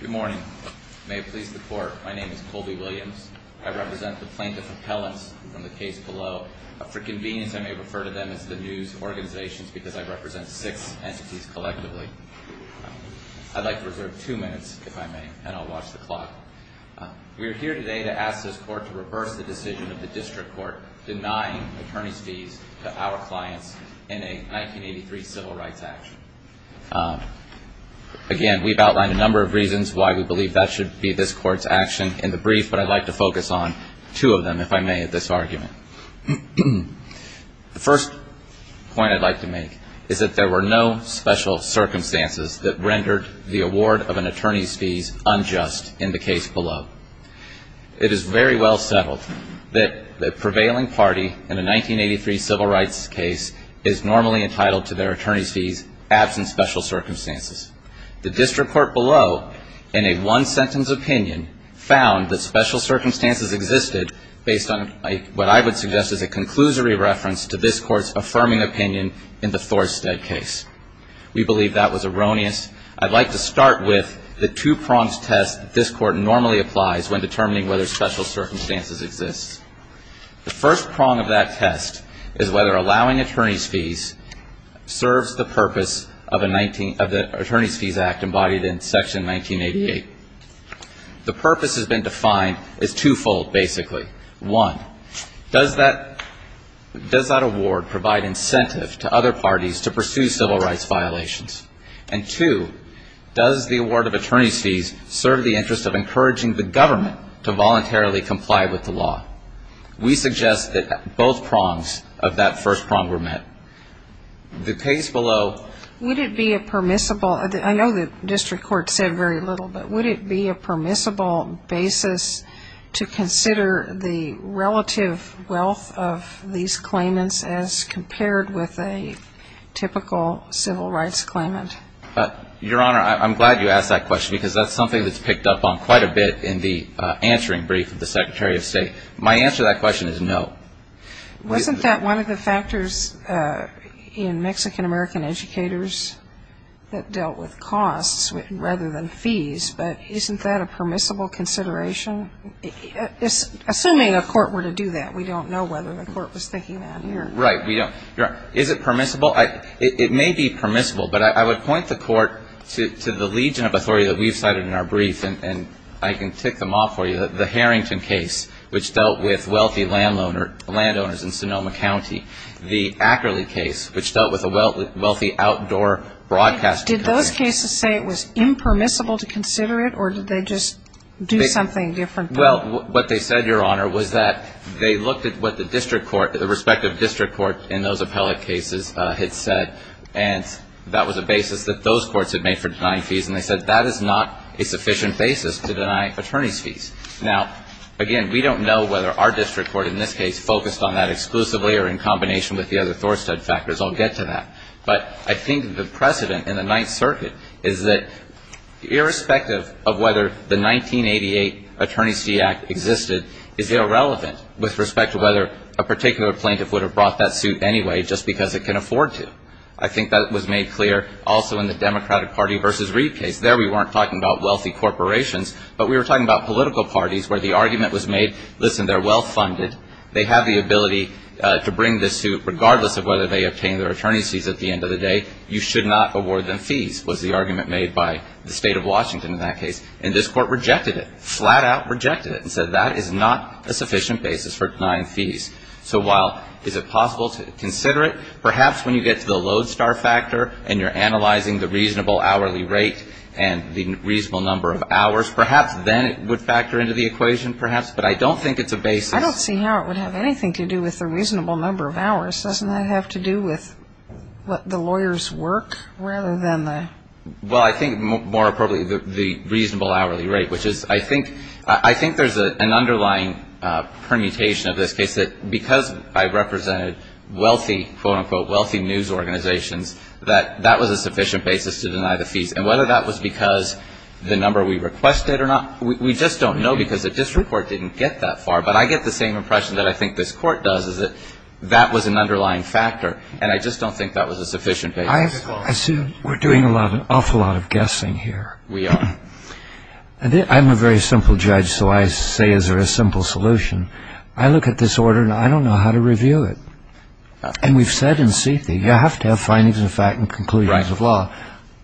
Good morning. May it please the court, my name is Colby Williams. I represent the plaintiff appellants from the case below. For convenience, I may refer to them as the news organizations because I represent six entities collectively. I'd like to reserve two minutes, if I may, and I'll watch the clock. We are here today to ask this court to reverse the decision of the district court denying attorney's fees to our clients in a 1983 civil rights action. Again, we've outlined a number of reasons why we believe that should be this court's action in the brief, but I'd like to focus on two of them, if I may, in this argument. The first point I'd like to make is that there were no special circumstances that rendered the award of an attorney's fees unjust in the case below. It is very well settled that the prevailing party in a 1983 civil rights case is normally entitled to their attorney's fees, absent special circumstances. The district court below, in a one-sentence opinion, found that special circumstances existed based on what I would suggest is a conclusory reference to this court's affirming opinion in the Thorstead case. We believe that was erroneous. I'd like to start with the two-pronged test this court normally applies when determining whether special circumstances exist. The first prong of that test is whether allowing attorney's fees serves the purpose of the Attorney's Fees Act embodied in Section 1988. The purpose has been defined as two-fold, basically. One, does that award provide incentive to other parties to pursue civil rights violations? And two, does the award of attorney's fees serve the interest of encouraging the government to voluntarily comply with the law? We suggest that both prongs of that first prong were met. The case below — Would it be a permissible — I know the district court said very little, but would it be a permissible basis to consider the relative wealth of these claimants as compared with a typical civil rights claimant? Your Honor, I'm glad you asked that question because that's something that's picked up on quite a bit in the answering brief of the Secretary of State. My answer to that question is no. Wasn't that one of the factors in Mexican-American educators that dealt with costs rather than fees? But isn't that a permissible consideration? Assuming a court were to do that, we don't know whether the court was thinking that here. Right. We don't. Is it permissible? It may be permissible, but I would point the court to the legion of authority that we've cited in our brief, and I can tick them off for you. The Harrington case, which dealt with wealthy landowners in Sonoma County. The Ackerley case, which dealt with a wealthy outdoor broadcaster. Did those cases say it was impermissible to consider it, or did they just do something different? Well, what they said, Your Honor, was that they looked at what the respective district court in those appellate cases had said, and that was a basis that those courts had made for denying fees, and they said that is not a sufficient basis to deny attorneys' fees. Now, again, we don't know whether our district court in this case focused on that exclusively or in combination with the other Thorstead factors. I'll get to that. But I think the precedent in the Ninth Circuit is that irrespective of whether the 1988 Attorney's Fee Act existed is irrelevant with respect to whether a particular plaintiff would have brought that suit anyway just because it can afford to. I think that was made clear also in the Democratic Party v. Reed case. There we weren't talking about wealthy corporations, but we were talking about political parties where the argument was made, listen, they're well-funded. They have the ability to bring this suit regardless of whether they obtain their attorney's fees at the end of the day. You should not award them fees was the argument made by the State of Washington in that case. And this Court rejected it, flat out rejected it, and said that is not a sufficient basis for denying fees. So while is it possible to consider it, perhaps when you get to the Lodestar factor and you're analyzing the reasonable hourly rate and the reasonable number of hours, perhaps then it would factor into the equation, perhaps, but I don't think it's a basis. I don't see how it would have anything to do with the reasonable number of hours. Doesn't that have to do with what the lawyers work rather than the ‑‑ I assume we're doing an awful lot of guessing here. I'm a very simple judge, so I say is there a simple solution. I look at this order and I don't know how to review it. And we've said in CETI, you have to have findings of fact and conclusions of law.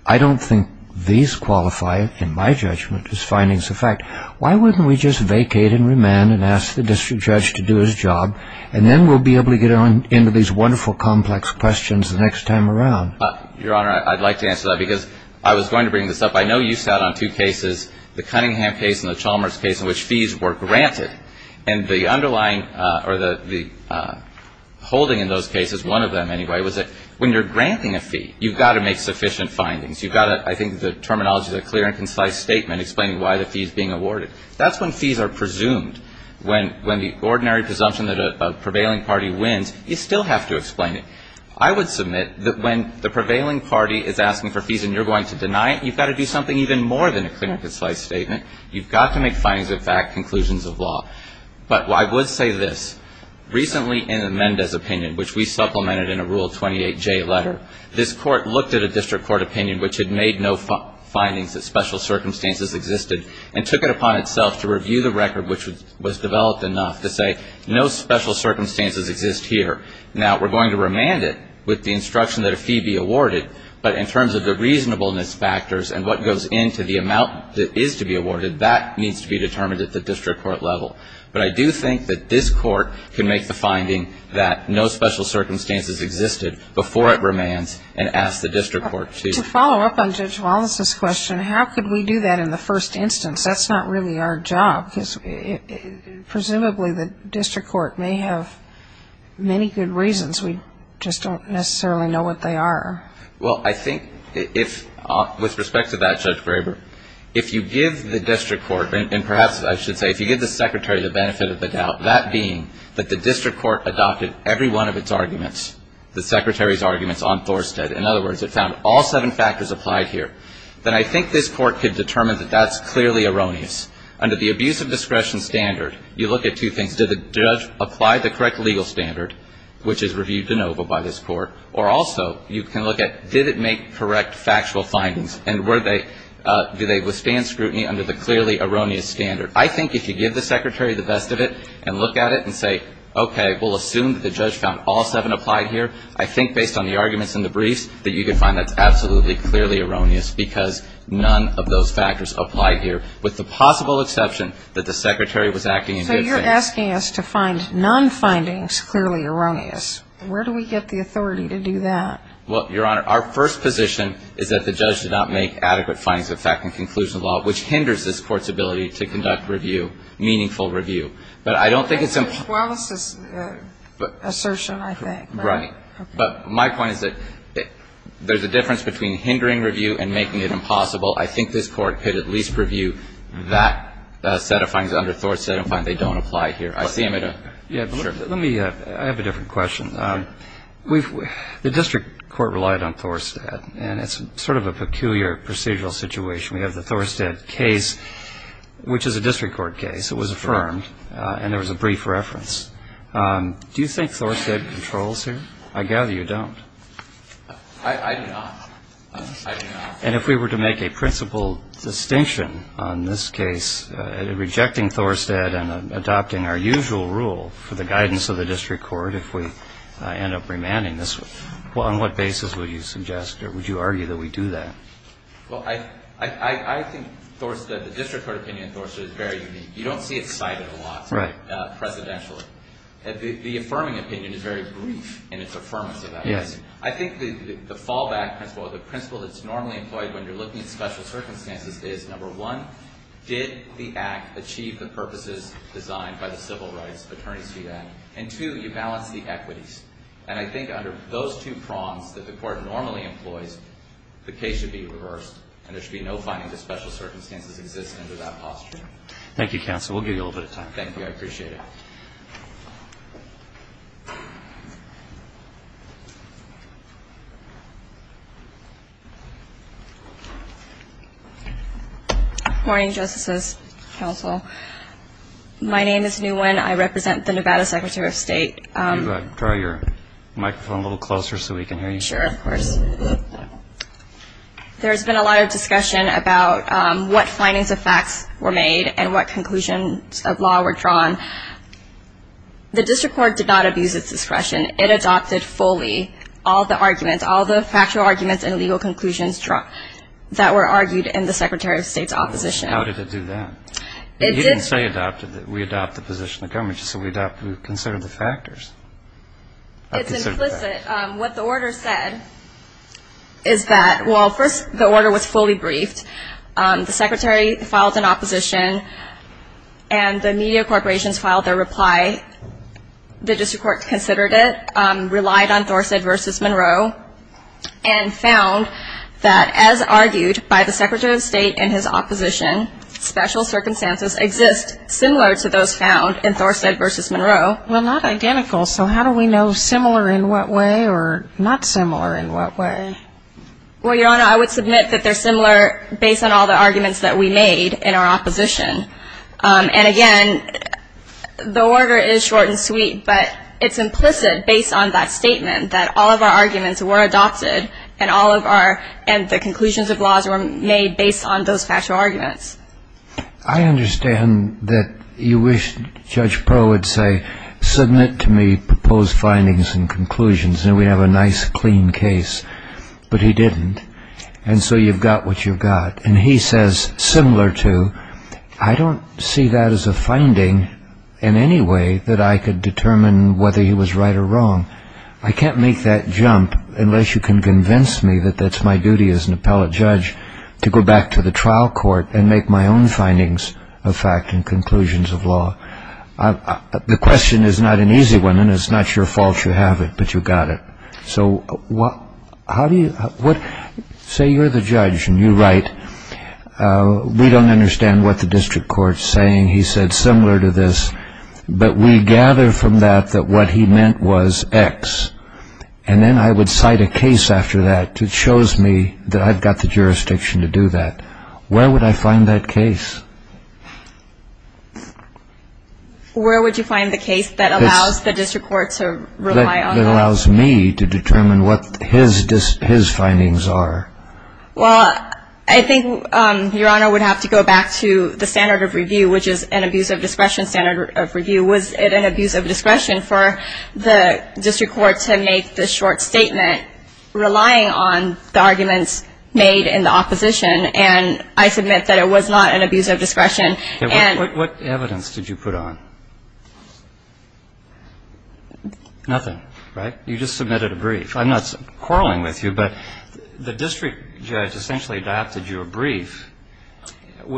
I don't think these qualify in my judgment as findings of fact. Why wouldn't we just vacate and remand and ask the district attorney to review it? And then we'll be able to get on into these wonderful complex questions the next time around. Your Honor, I'd like to answer that because I was going to bring this up. I know you sat on two cases, the Cunningham case and the Chalmers case, in which fees were granted. And the underlying ‑‑ or the holding in those cases, one of them anyway, was that when you're granting a fee, you've got to make sufficient findings. You've got to ‑‑ I think the terminology is a clear and concise statement explaining why the fee is being awarded. That's when fees are presumed. When the ordinary presumption that a prevailing party wins, you still have to explain it. I would submit that when the prevailing party is asking for fees and you're going to deny it, you've got to do something even more than a clear and concise statement. You've got to make findings of fact, conclusions of law. But I would say this. Recently in the Mendez opinion, which we supplemented in a Rule 28J letter, this court looked at a district court opinion which had made no findings that special circumstances existed and took it upon itself to review the record which was developed enough to say no special circumstances exist here. Now, we're going to remand it with the instruction that a fee be awarded, but in terms of the reasonableness factors and what goes into the amount that is to be awarded, that needs to be determined at the district court level. But I do think that this court can make the finding that no special circumstances existed before it remands and ask the district court to ‑‑ To follow up on Judge Wallace's question, how could we do that in the first instance? That's not really our job. Presumably the district court may have many good reasons. We just don't necessarily know what they are. Well, I think if ‑‑ with respect to that, Judge Graber, if you give the district court, and perhaps I should say if you give the secretary the benefit of the doubt, that being that the district court adopted every one of its arguments, the secretary's arguments on Thorstead, in other words, it found all seven factors applied here, then I think this court could determine that that's clearly erroneous. Under the abuse of discretion standard, you look at two things. Did the judge apply the correct legal standard, which is reviewed de novo by this court, or also you can look at did it make correct factual findings and were they ‑‑ do they withstand scrutiny under the clearly erroneous standard? I think if you give the secretary the best of it and look at it and say, okay, we'll assume that the judge found all seven applied here, I think based on the arguments in the briefs that you can find that's absolutely clearly erroneous because none of those factors applied here. With the possible exception that the secretary was acting in good faith. So you're asking us to find non‑findings clearly erroneous. Where do we get the authority to do that? Well, Your Honor, our first position is that the judge did not make adequate findings of fact and conclusion law, which hinders this court's ability to conduct review, meaningful review. But I don't think it's ‑‑ Well, it's an assertion, I think. Right. But my point is that there's a difference between hindering review and making it impossible. I think this court could at least review that set of findings under Thorstead and find they don't apply here. I see him at a ‑‑ Yeah, but let me ‑‑ I have a different question. The district court relied on Thorstead, and it's sort of a peculiar procedural situation. We have the Thorstead case, which is a district court case. It was affirmed, and there was a brief reference. Do you think Thorstead controls here? I gather you don't. I do not. I do not. And if we were to make a principal distinction on this case, rejecting Thorstead and adopting our usual rule for the guidance of the district court, if we end up remanding this, on what basis would you suggest or would you argue that we do that? Well, I think Thorstead, the district court opinion of Thorstead is very unique. You don't see it cited a lot presidentially. The affirming opinion is very brief in its affirmance of that. Yes. I think the fallback principle or the principle that's normally employed when you're looking at special circumstances is, number one, did the act achieve the purposes designed by the Civil Rights Attorney's Fee Act? And, two, you balance the equities. And I think under those two prongs that the court normally employs, the case should be reversed, and there should be no finding that special circumstances exist under that posture. Thank you, Counsel. We'll give you a little bit of time. Thank you. I appreciate it. Good morning, Justices, Counsel. My name is Nguyen. I represent the Nevada Secretary of State. Can you draw your microphone a little closer so we can hear you? Sure, of course. There has been a lot of discussion about what findings of facts were made and what conclusions of law were drawn. The district court did not abuse its discretion. It adopted fully all the arguments, all the factual arguments and legal conclusions that were argued in the Secretary of State's opposition. How did it do that? It did. You didn't say adopted. We adopted the position of the government. You said we considered the factors. It's implicit. What the order said is that, well, first, the order was fully briefed. The Secretary filed an opposition, and the media corporations filed their reply. The district court considered it, relied on Thorsted v. Monroe, and found that as argued by the Secretary of State in his opposition, special circumstances exist similar to those found in Thorsted v. Monroe. Well, not identical. So how do we know similar in what way or not similar in what way? Well, Your Honor, I would submit that they're similar based on all the arguments that we made in our opposition. And, again, the order is short and sweet, but it's implicit based on that statement that all of our arguments were adopted and all of our conclusions of laws were made based on those factual arguments. I understand that you wish Judge Proe would say, submit to me proposed findings and conclusions, and we'd have a nice, clean case. But he didn't. And so you've got what you've got. And he says, similar to, I don't see that as a finding in any way that I could determine whether he was right or wrong. I can't make that jump unless you can convince me that that's my duty as an appellate judge to go back to the trial court and make my own findings of fact and conclusions of law. The question is not an easy one, and it's not your fault you have it, but you've got it. So say you're the judge and you write, we don't understand what the district court's saying, he said, similar to this, but we gather from that that what he meant was X. And then I would cite a case after that that shows me that I've got the jurisdiction to do that. Where would I find that case? Where would you find the case that allows the district court to rely on that? That allows me to determine what his findings are. Well, I think Your Honor would have to go back to the standard of review, which is an abuse of discretion standard of review. Was it an abuse of discretion for the district court to make the short statement relying on the arguments made in the opposition? And I submit that it was not an abuse of discretion. What evidence did you put on? Nothing, right? You just submitted a brief. I'm not quarreling with you, but the district judge essentially adopted your brief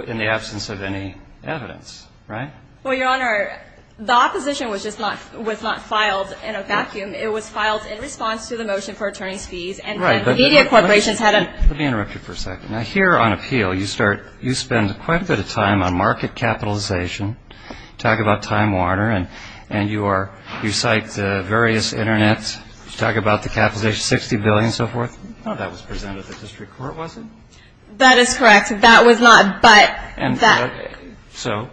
in the absence of any evidence, right? Well, Your Honor, the opposition was just not filed in a vacuum. It was filed in response to the motion for attorney's fees. And the media corporations had a ---- Let me interrupt you for a second. Now, here on appeal, you spend quite a bit of time on market capitalization. You talk about Time Warner, and you cite the various internets. You talk about the capitalization, $60 billion and so forth. None of that was presented at the district court, was it? That is correct. That was not, but that ---- So,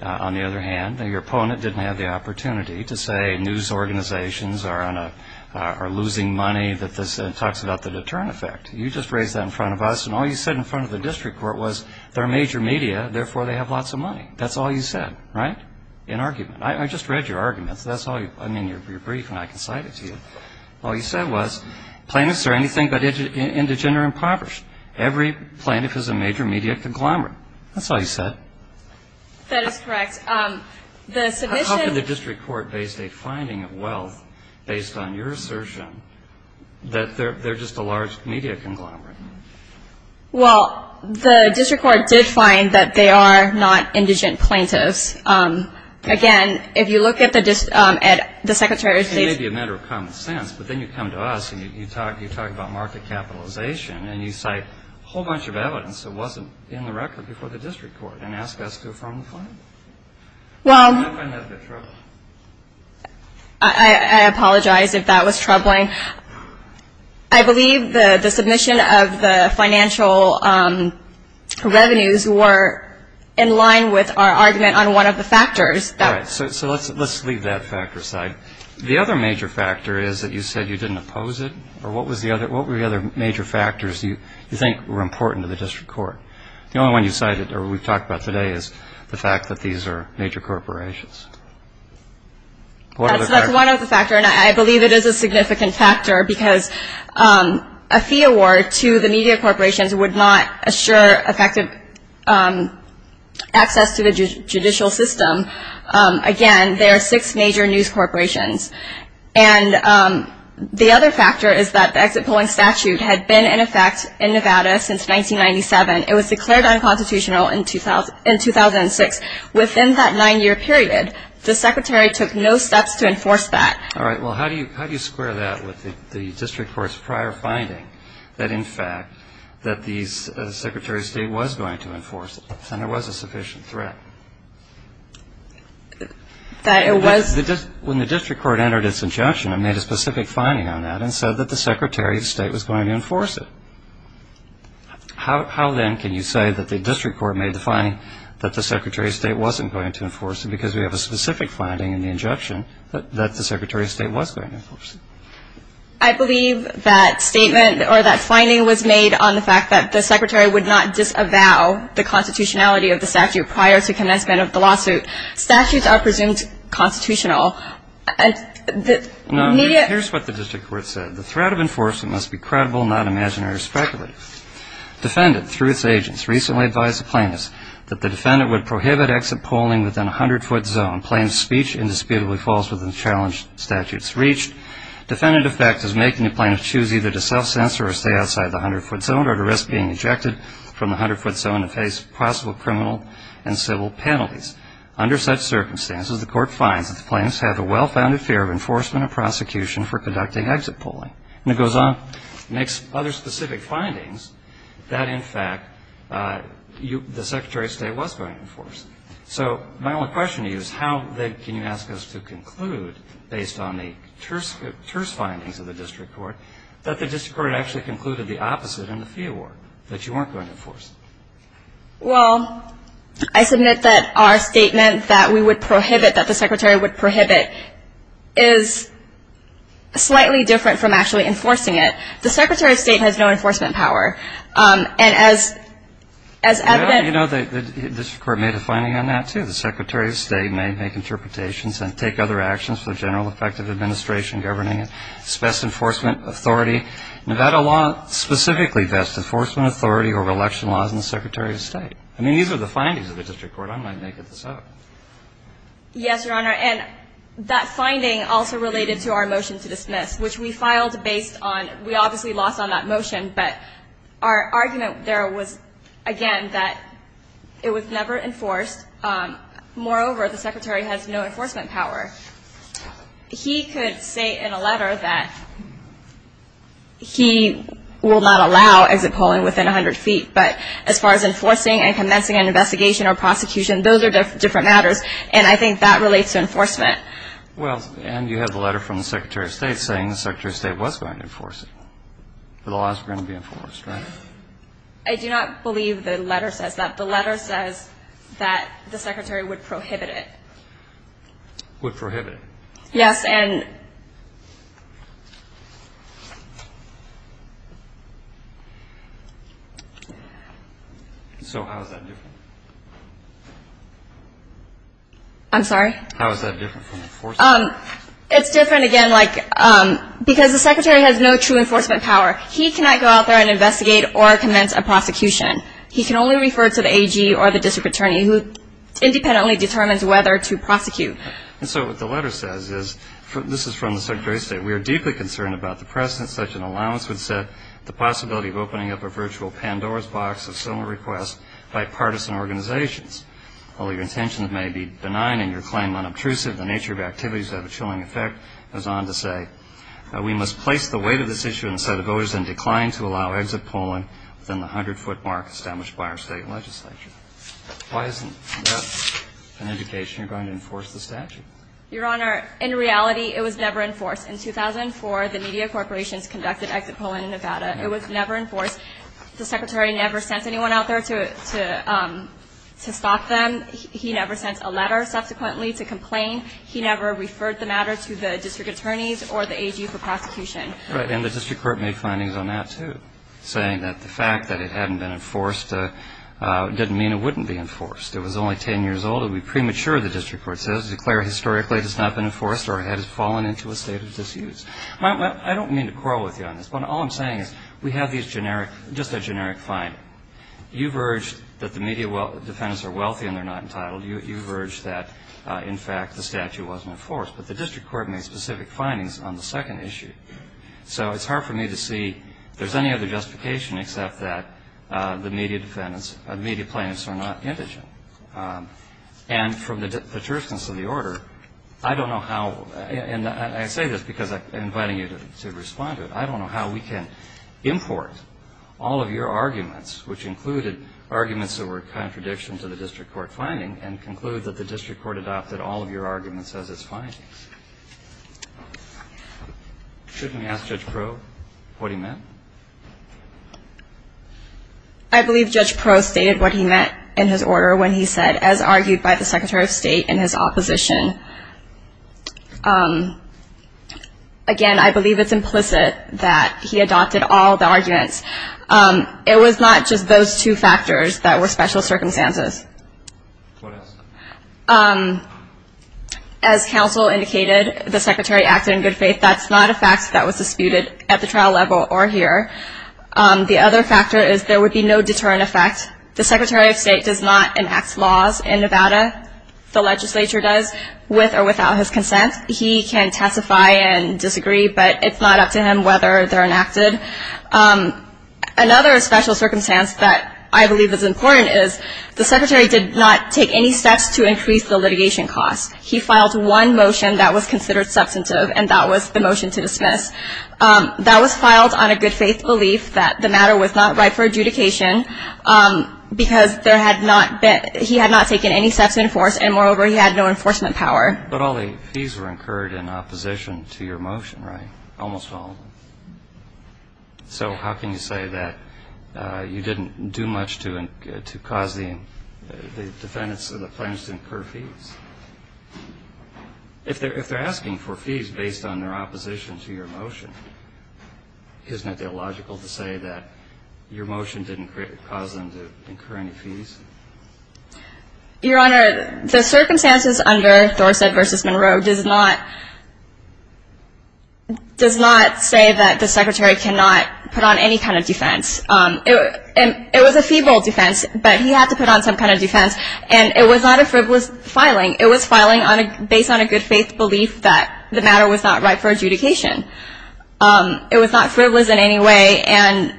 on the other hand, your opponent didn't have the opportunity to say news organizations are losing money, that this talks about the deterrent effect. You just raised that in front of us, and all you said in front of the district court was, they're a major media, therefore they have lots of money. That's all you said, right, in argument. I just read your arguments. That's all you ---- I mean, your brief, and I can cite it to you. All you said was, plaintiffs are anything but indigent or impoverished. Every plaintiff is a major media conglomerate. That's all you said. That is correct. The submission ---- How can the district court base a finding of wealth based on your assertion that they're just a large media conglomerate? Well, the district court did find that they are not indigent plaintiffs. Again, if you look at the secretary of state's ---- It may be a matter of common sense, but then you come to us, and you talk about market capitalization, and you cite a whole bunch of evidence that wasn't in the record before the district court and ask us to affirm the finding. Well ---- How can that be true? I apologize if that was troubling. I believe the submission of the financial revenues were in line with our argument on one of the factors. All right. So let's leave that factor aside. The other major factor is that you said you didn't oppose it, or what were the other major factors you think were important to the district court? The only one you cited or we've talked about today is the fact that these are major corporations. What other factors? That's one of the factors, and I believe it is a significant factor because a fee award to the media corporations would not assure effective access to the judicial system. Again, there are six major news corporations. And the other factor is that the exit polling statute had been in effect in Nevada since 1997. It was declared unconstitutional in 2006. Within that nine-year period, the secretary took no steps to enforce that. All right. Well, how do you square that with the district court's prior finding that, in fact, that the secretary of state was going to enforce it and there was a sufficient threat? That it was? When the district court entered its injunction, it made a specific finding on that and said that the secretary of state was going to enforce it. How, then, can you say that the district court made the finding that the secretary of state wasn't going to enforce it because we have a specific finding in the injunction that the secretary of state was going to enforce it? I believe that statement or that finding was made on the fact that the secretary would not disavow the constitutionality of the statute prior to commencement of the lawsuit. Statutes are presumed constitutional. Now, here's what the district court said. The threat of enforcement must be credible, not imaginary or speculative. Defendant, through its agents, recently advised the plaintiffs that the defendant would prohibit exit polling within a 100-foot zone. Plaintiff's speech indisputably falls within the challenge the statute's reached. Defendant, in effect, is making the plaintiff choose either to self-censor or stay outside the 100-foot zone or to risk being ejected from the 100-foot zone and face possible criminal and civil penalties. Under such circumstances, the court finds that the plaintiffs have a well-founded fear of enforcement and prosecution for conducting exit polling. And it goes on and makes other specific findings that, in fact, the secretary of state was going to enforce it. So my only question to you is how, then, can you ask us to conclude, based on the terse findings of the district court, that the district court had actually concluded the opposite in the fee award, that you weren't going to enforce it? Well, I submit that our statement that we would prohibit, that the secretary would prohibit, is slightly different from actually enforcing it. The secretary of state has no enforcement power. And as evident of that, the district court made a finding on that, too. The secretary of state may make interpretations and take other actions for the general effect of administration governing its best enforcement authority. Nevada law specifically vests enforcement authority over election laws in the secretary of state. I mean, these are the findings of the district court. I'm not making this up. Yes, Your Honor. And that finding also related to our motion to dismiss, which we filed based on we obviously lost on that motion. But our argument there was, again, that it was never enforced. Moreover, the secretary has no enforcement power. He could say in a letter that he will not allow exit polling within 100 feet. But as far as enforcing and commencing an investigation or prosecution, those are different matters. And I think that relates to enforcement. Well, and you have a letter from the secretary of state saying the secretary of state was going to enforce it. The laws were going to be enforced, right? I do not believe the letter says that. The letter says that the secretary would prohibit it. Would prohibit it? Yes. And so how is that different? I'm sorry? How is that different from enforcing? It's different, again, because the secretary has no true enforcement power. He cannot go out there and investigate or commence a prosecution. He can only refer to the AG or the district attorney who independently determines whether to prosecute. And so what the letter says is, this is from the secretary of state, we are deeply concerned about the presence such an allowance would set the possibility of opening up a virtual Pandora's box of similar requests by partisan organizations. Although your intentions may be benign and your claim unobtrusive, the nature of your activities have a chilling effect, goes on to say we must place the weight of this issue in the set of voters and decline to allow exit polling within the 100-foot mark established by our state legislature. Why isn't that an indication you're going to enforce the statute? Your Honor, in reality, it was never enforced. In 2004, the media corporations conducted exit polling in Nevada. It was never enforced. The secretary never sent anyone out there to stop them. He never sent a letter subsequently to complain. He never referred the matter to the district attorneys or the AG for prosecution. Right. And the district court made findings on that, too, saying that the fact that it hadn't been enforced didn't mean it wouldn't be enforced. It was only 10 years old. It would be premature, the district court says, to declare historically it has not been enforced or had fallen into a state of disuse. I don't mean to quarrel with you on this, but all I'm saying is we have these generic, just a generic finding. You've urged that the media defendants are wealthy and they're not entitled. You've urged that, in fact, the statute wasn't enforced. But the district court made specific findings on the second issue. So it's hard for me to see if there's any other justification except that the media defendants, the media plaintiffs are not indigent. And from the deterrence of the order, I don't know how, and I say this because I'm inviting you to respond to it, I don't know how we can import all of your arguments, which included arguments that were a contradiction to the district court finding, and conclude that the district court adopted all of your arguments as its findings. Shouldn't we ask Judge Proulx what he meant? I believe Judge Proulx stated what he meant in his order when he said, as argued by the Secretary of State in his opposition, again, I believe it's implicit that he adopted all the arguments. It was not just those two factors that were special circumstances. What else? As counsel indicated, the Secretary acted in good faith. That's not a fact that was disputed at the trial level or here. The other factor is there would be no deterrent effect. The Secretary of State does not enact laws in Nevada. The legislature does, with or without his consent. He can testify and disagree, but it's not up to him whether they're enacted. Another special circumstance that I believe is important is the Secretary did not take any steps to increase the litigation costs. He filed one motion that was considered substantive, and that was the motion to dismiss. That was filed on a good faith belief that the matter was not right for adjudication, because he had not taken any steps to enforce, and moreover, he had no enforcement power. But all the fees were incurred in opposition to your motion, right? Almost all of them. So how can you say that you didn't do much to cause the defendants or the plaintiffs to incur fees? If they're asking for fees based on their opposition to your motion, isn't it illogical to say that your motion didn't cause them to incur any fees? Your Honor, the circumstances under Dorstad v. Monroe does not say that the Secretary cannot put on any kind of defense. It was a feeble defense, but he had to put on some kind of defense, and it was not a frivolous filing. It was filing based on a good faith belief that the matter was not right for adjudication. It was not frivolous in any way, and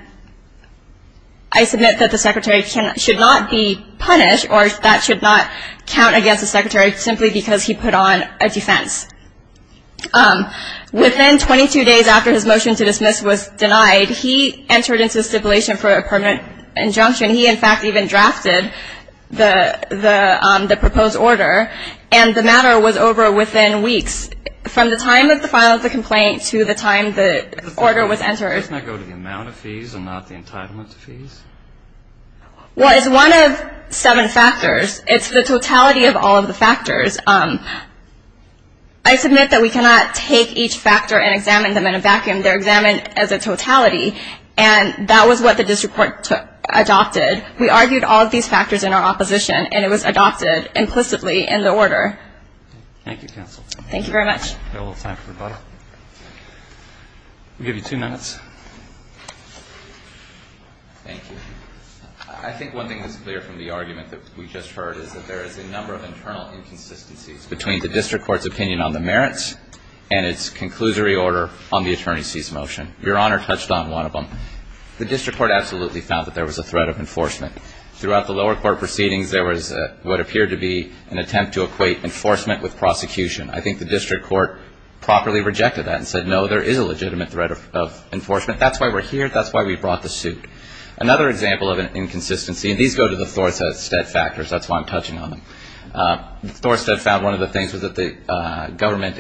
I submit that the Secretary should not be punished or that should not count against the Secretary simply because he put on a defense. Within 22 days after his motion to dismiss was denied, he entered into stipulation for a permanent injunction. He, in fact, even drafted the proposed order, and the matter was over within weeks. From the time of the filing of the complaint to the time the order was entered. Doesn't that go to the amount of fees and not the entitlement to fees? Well, it's one of seven factors. It's the totality of all of the factors. I submit that we cannot take each factor and examine them in a vacuum. They're examined as a totality, and that was what the district court took, adopted. We argued all of these factors in our opposition, and it was adopted implicitly in the order. Thank you, counsel. Thank you very much. We have a little time for rebuttal. We'll give you two minutes. Thank you. I think one thing that's clear from the argument that we just heard is that there is a number of internal inconsistencies between the district court's opinion on the merits and its conclusory order on the attorney's cease motion. Your Honor touched on one of them. The district court absolutely found that there was a threat of enforcement. Throughout the lower court proceedings, there was what appeared to be an attempt to equate enforcement with prosecution. I think the district court properly rejected that and said, no, there is a legitimate threat of enforcement. That's why we're here. That's why we brought the suit. Another example of an inconsistency, and these go to the Thorstedt factors. That's why I'm touching on them. Thorstedt found one of the things was that the government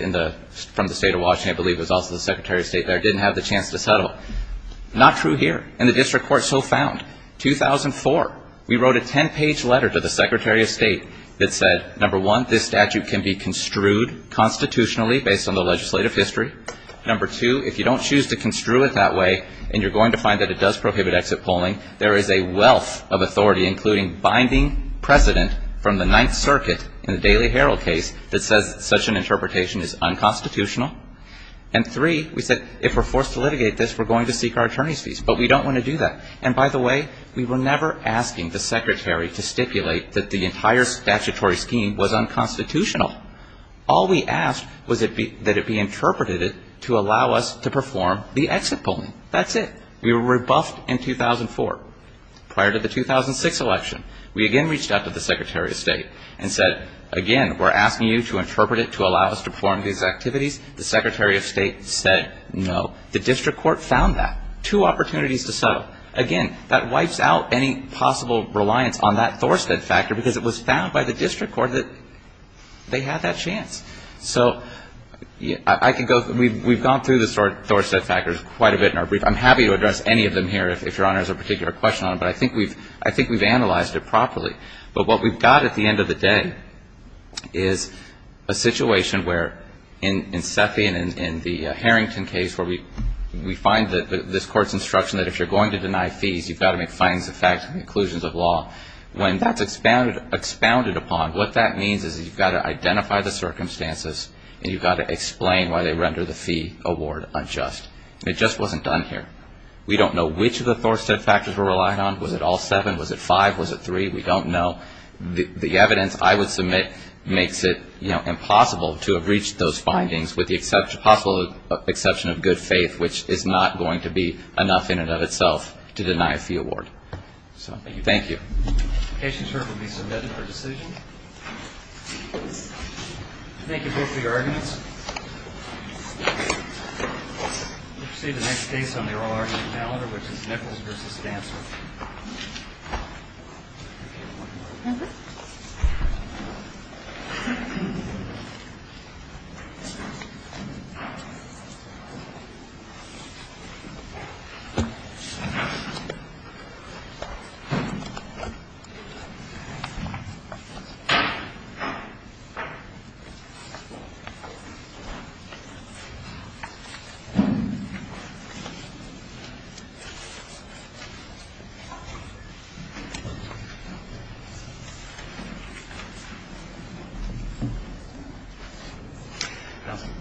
from the State of Washington, I believe it was also the Secretary of State there, didn't have the chance to settle. Not true here. And the district court so found. 2004, we wrote a ten-page letter to the Secretary of State that said, number one, this statute can be construed constitutionally based on the legislative history. Number two, if you don't choose to construe it that way and you're going to find that it does prohibit exit polling, there is a wealth of authority, including binding precedent from the Ninth Circuit in the Daily Herald case, that says such an interpretation is unconstitutional. And three, we said, if we're forced to litigate this, we're going to seek our attorney's fees. But we don't want to do that. And by the way, we were never asking the Secretary to stipulate that the entire statutory scheme was unconstitutional. All we asked was that it be interpreted to allow us to perform the exit polling. That's it. We were rebuffed in 2004. Prior to the 2006 election, we again reached out to the Secretary of State and said, again, we're asking you to interpret it to allow us to perform these activities. The Secretary of State said no. The district court found that. Two opportunities to settle. Again, that wipes out any possible reliance on that Thorstead factor, because it was found by the district court that they had that chance. So I can go we've gone through the Thorstead factor quite a bit in our brief. I'm happy to address any of them here if Your Honor has a particular question on them. But I think we've analyzed it properly. But what we've got at the end of the day is a situation where in Sethi and in the Harrington case where we find this court's instruction that if you're going to deny fees, you've got to make findings of fact and conclusions of law. When that's expounded upon, what that means is that you've got to identify the circumstances and you've got to explain why they render the fee award unjust. It just wasn't done here. We don't know which of the Thorstead factors were relied on. Was it all seven? Was it five? Was it three? We don't know. The evidence I would submit makes it impossible to have reached those findings with the possible exception of good faith, which is not going to be enough in and of itself to deny a fee award. So thank you. The case is heard and will be submitted for decision. Thank you both for your arguments. We'll proceed to the next case on the oral argument calendar, which is Nichols v. Stanser. Thank you.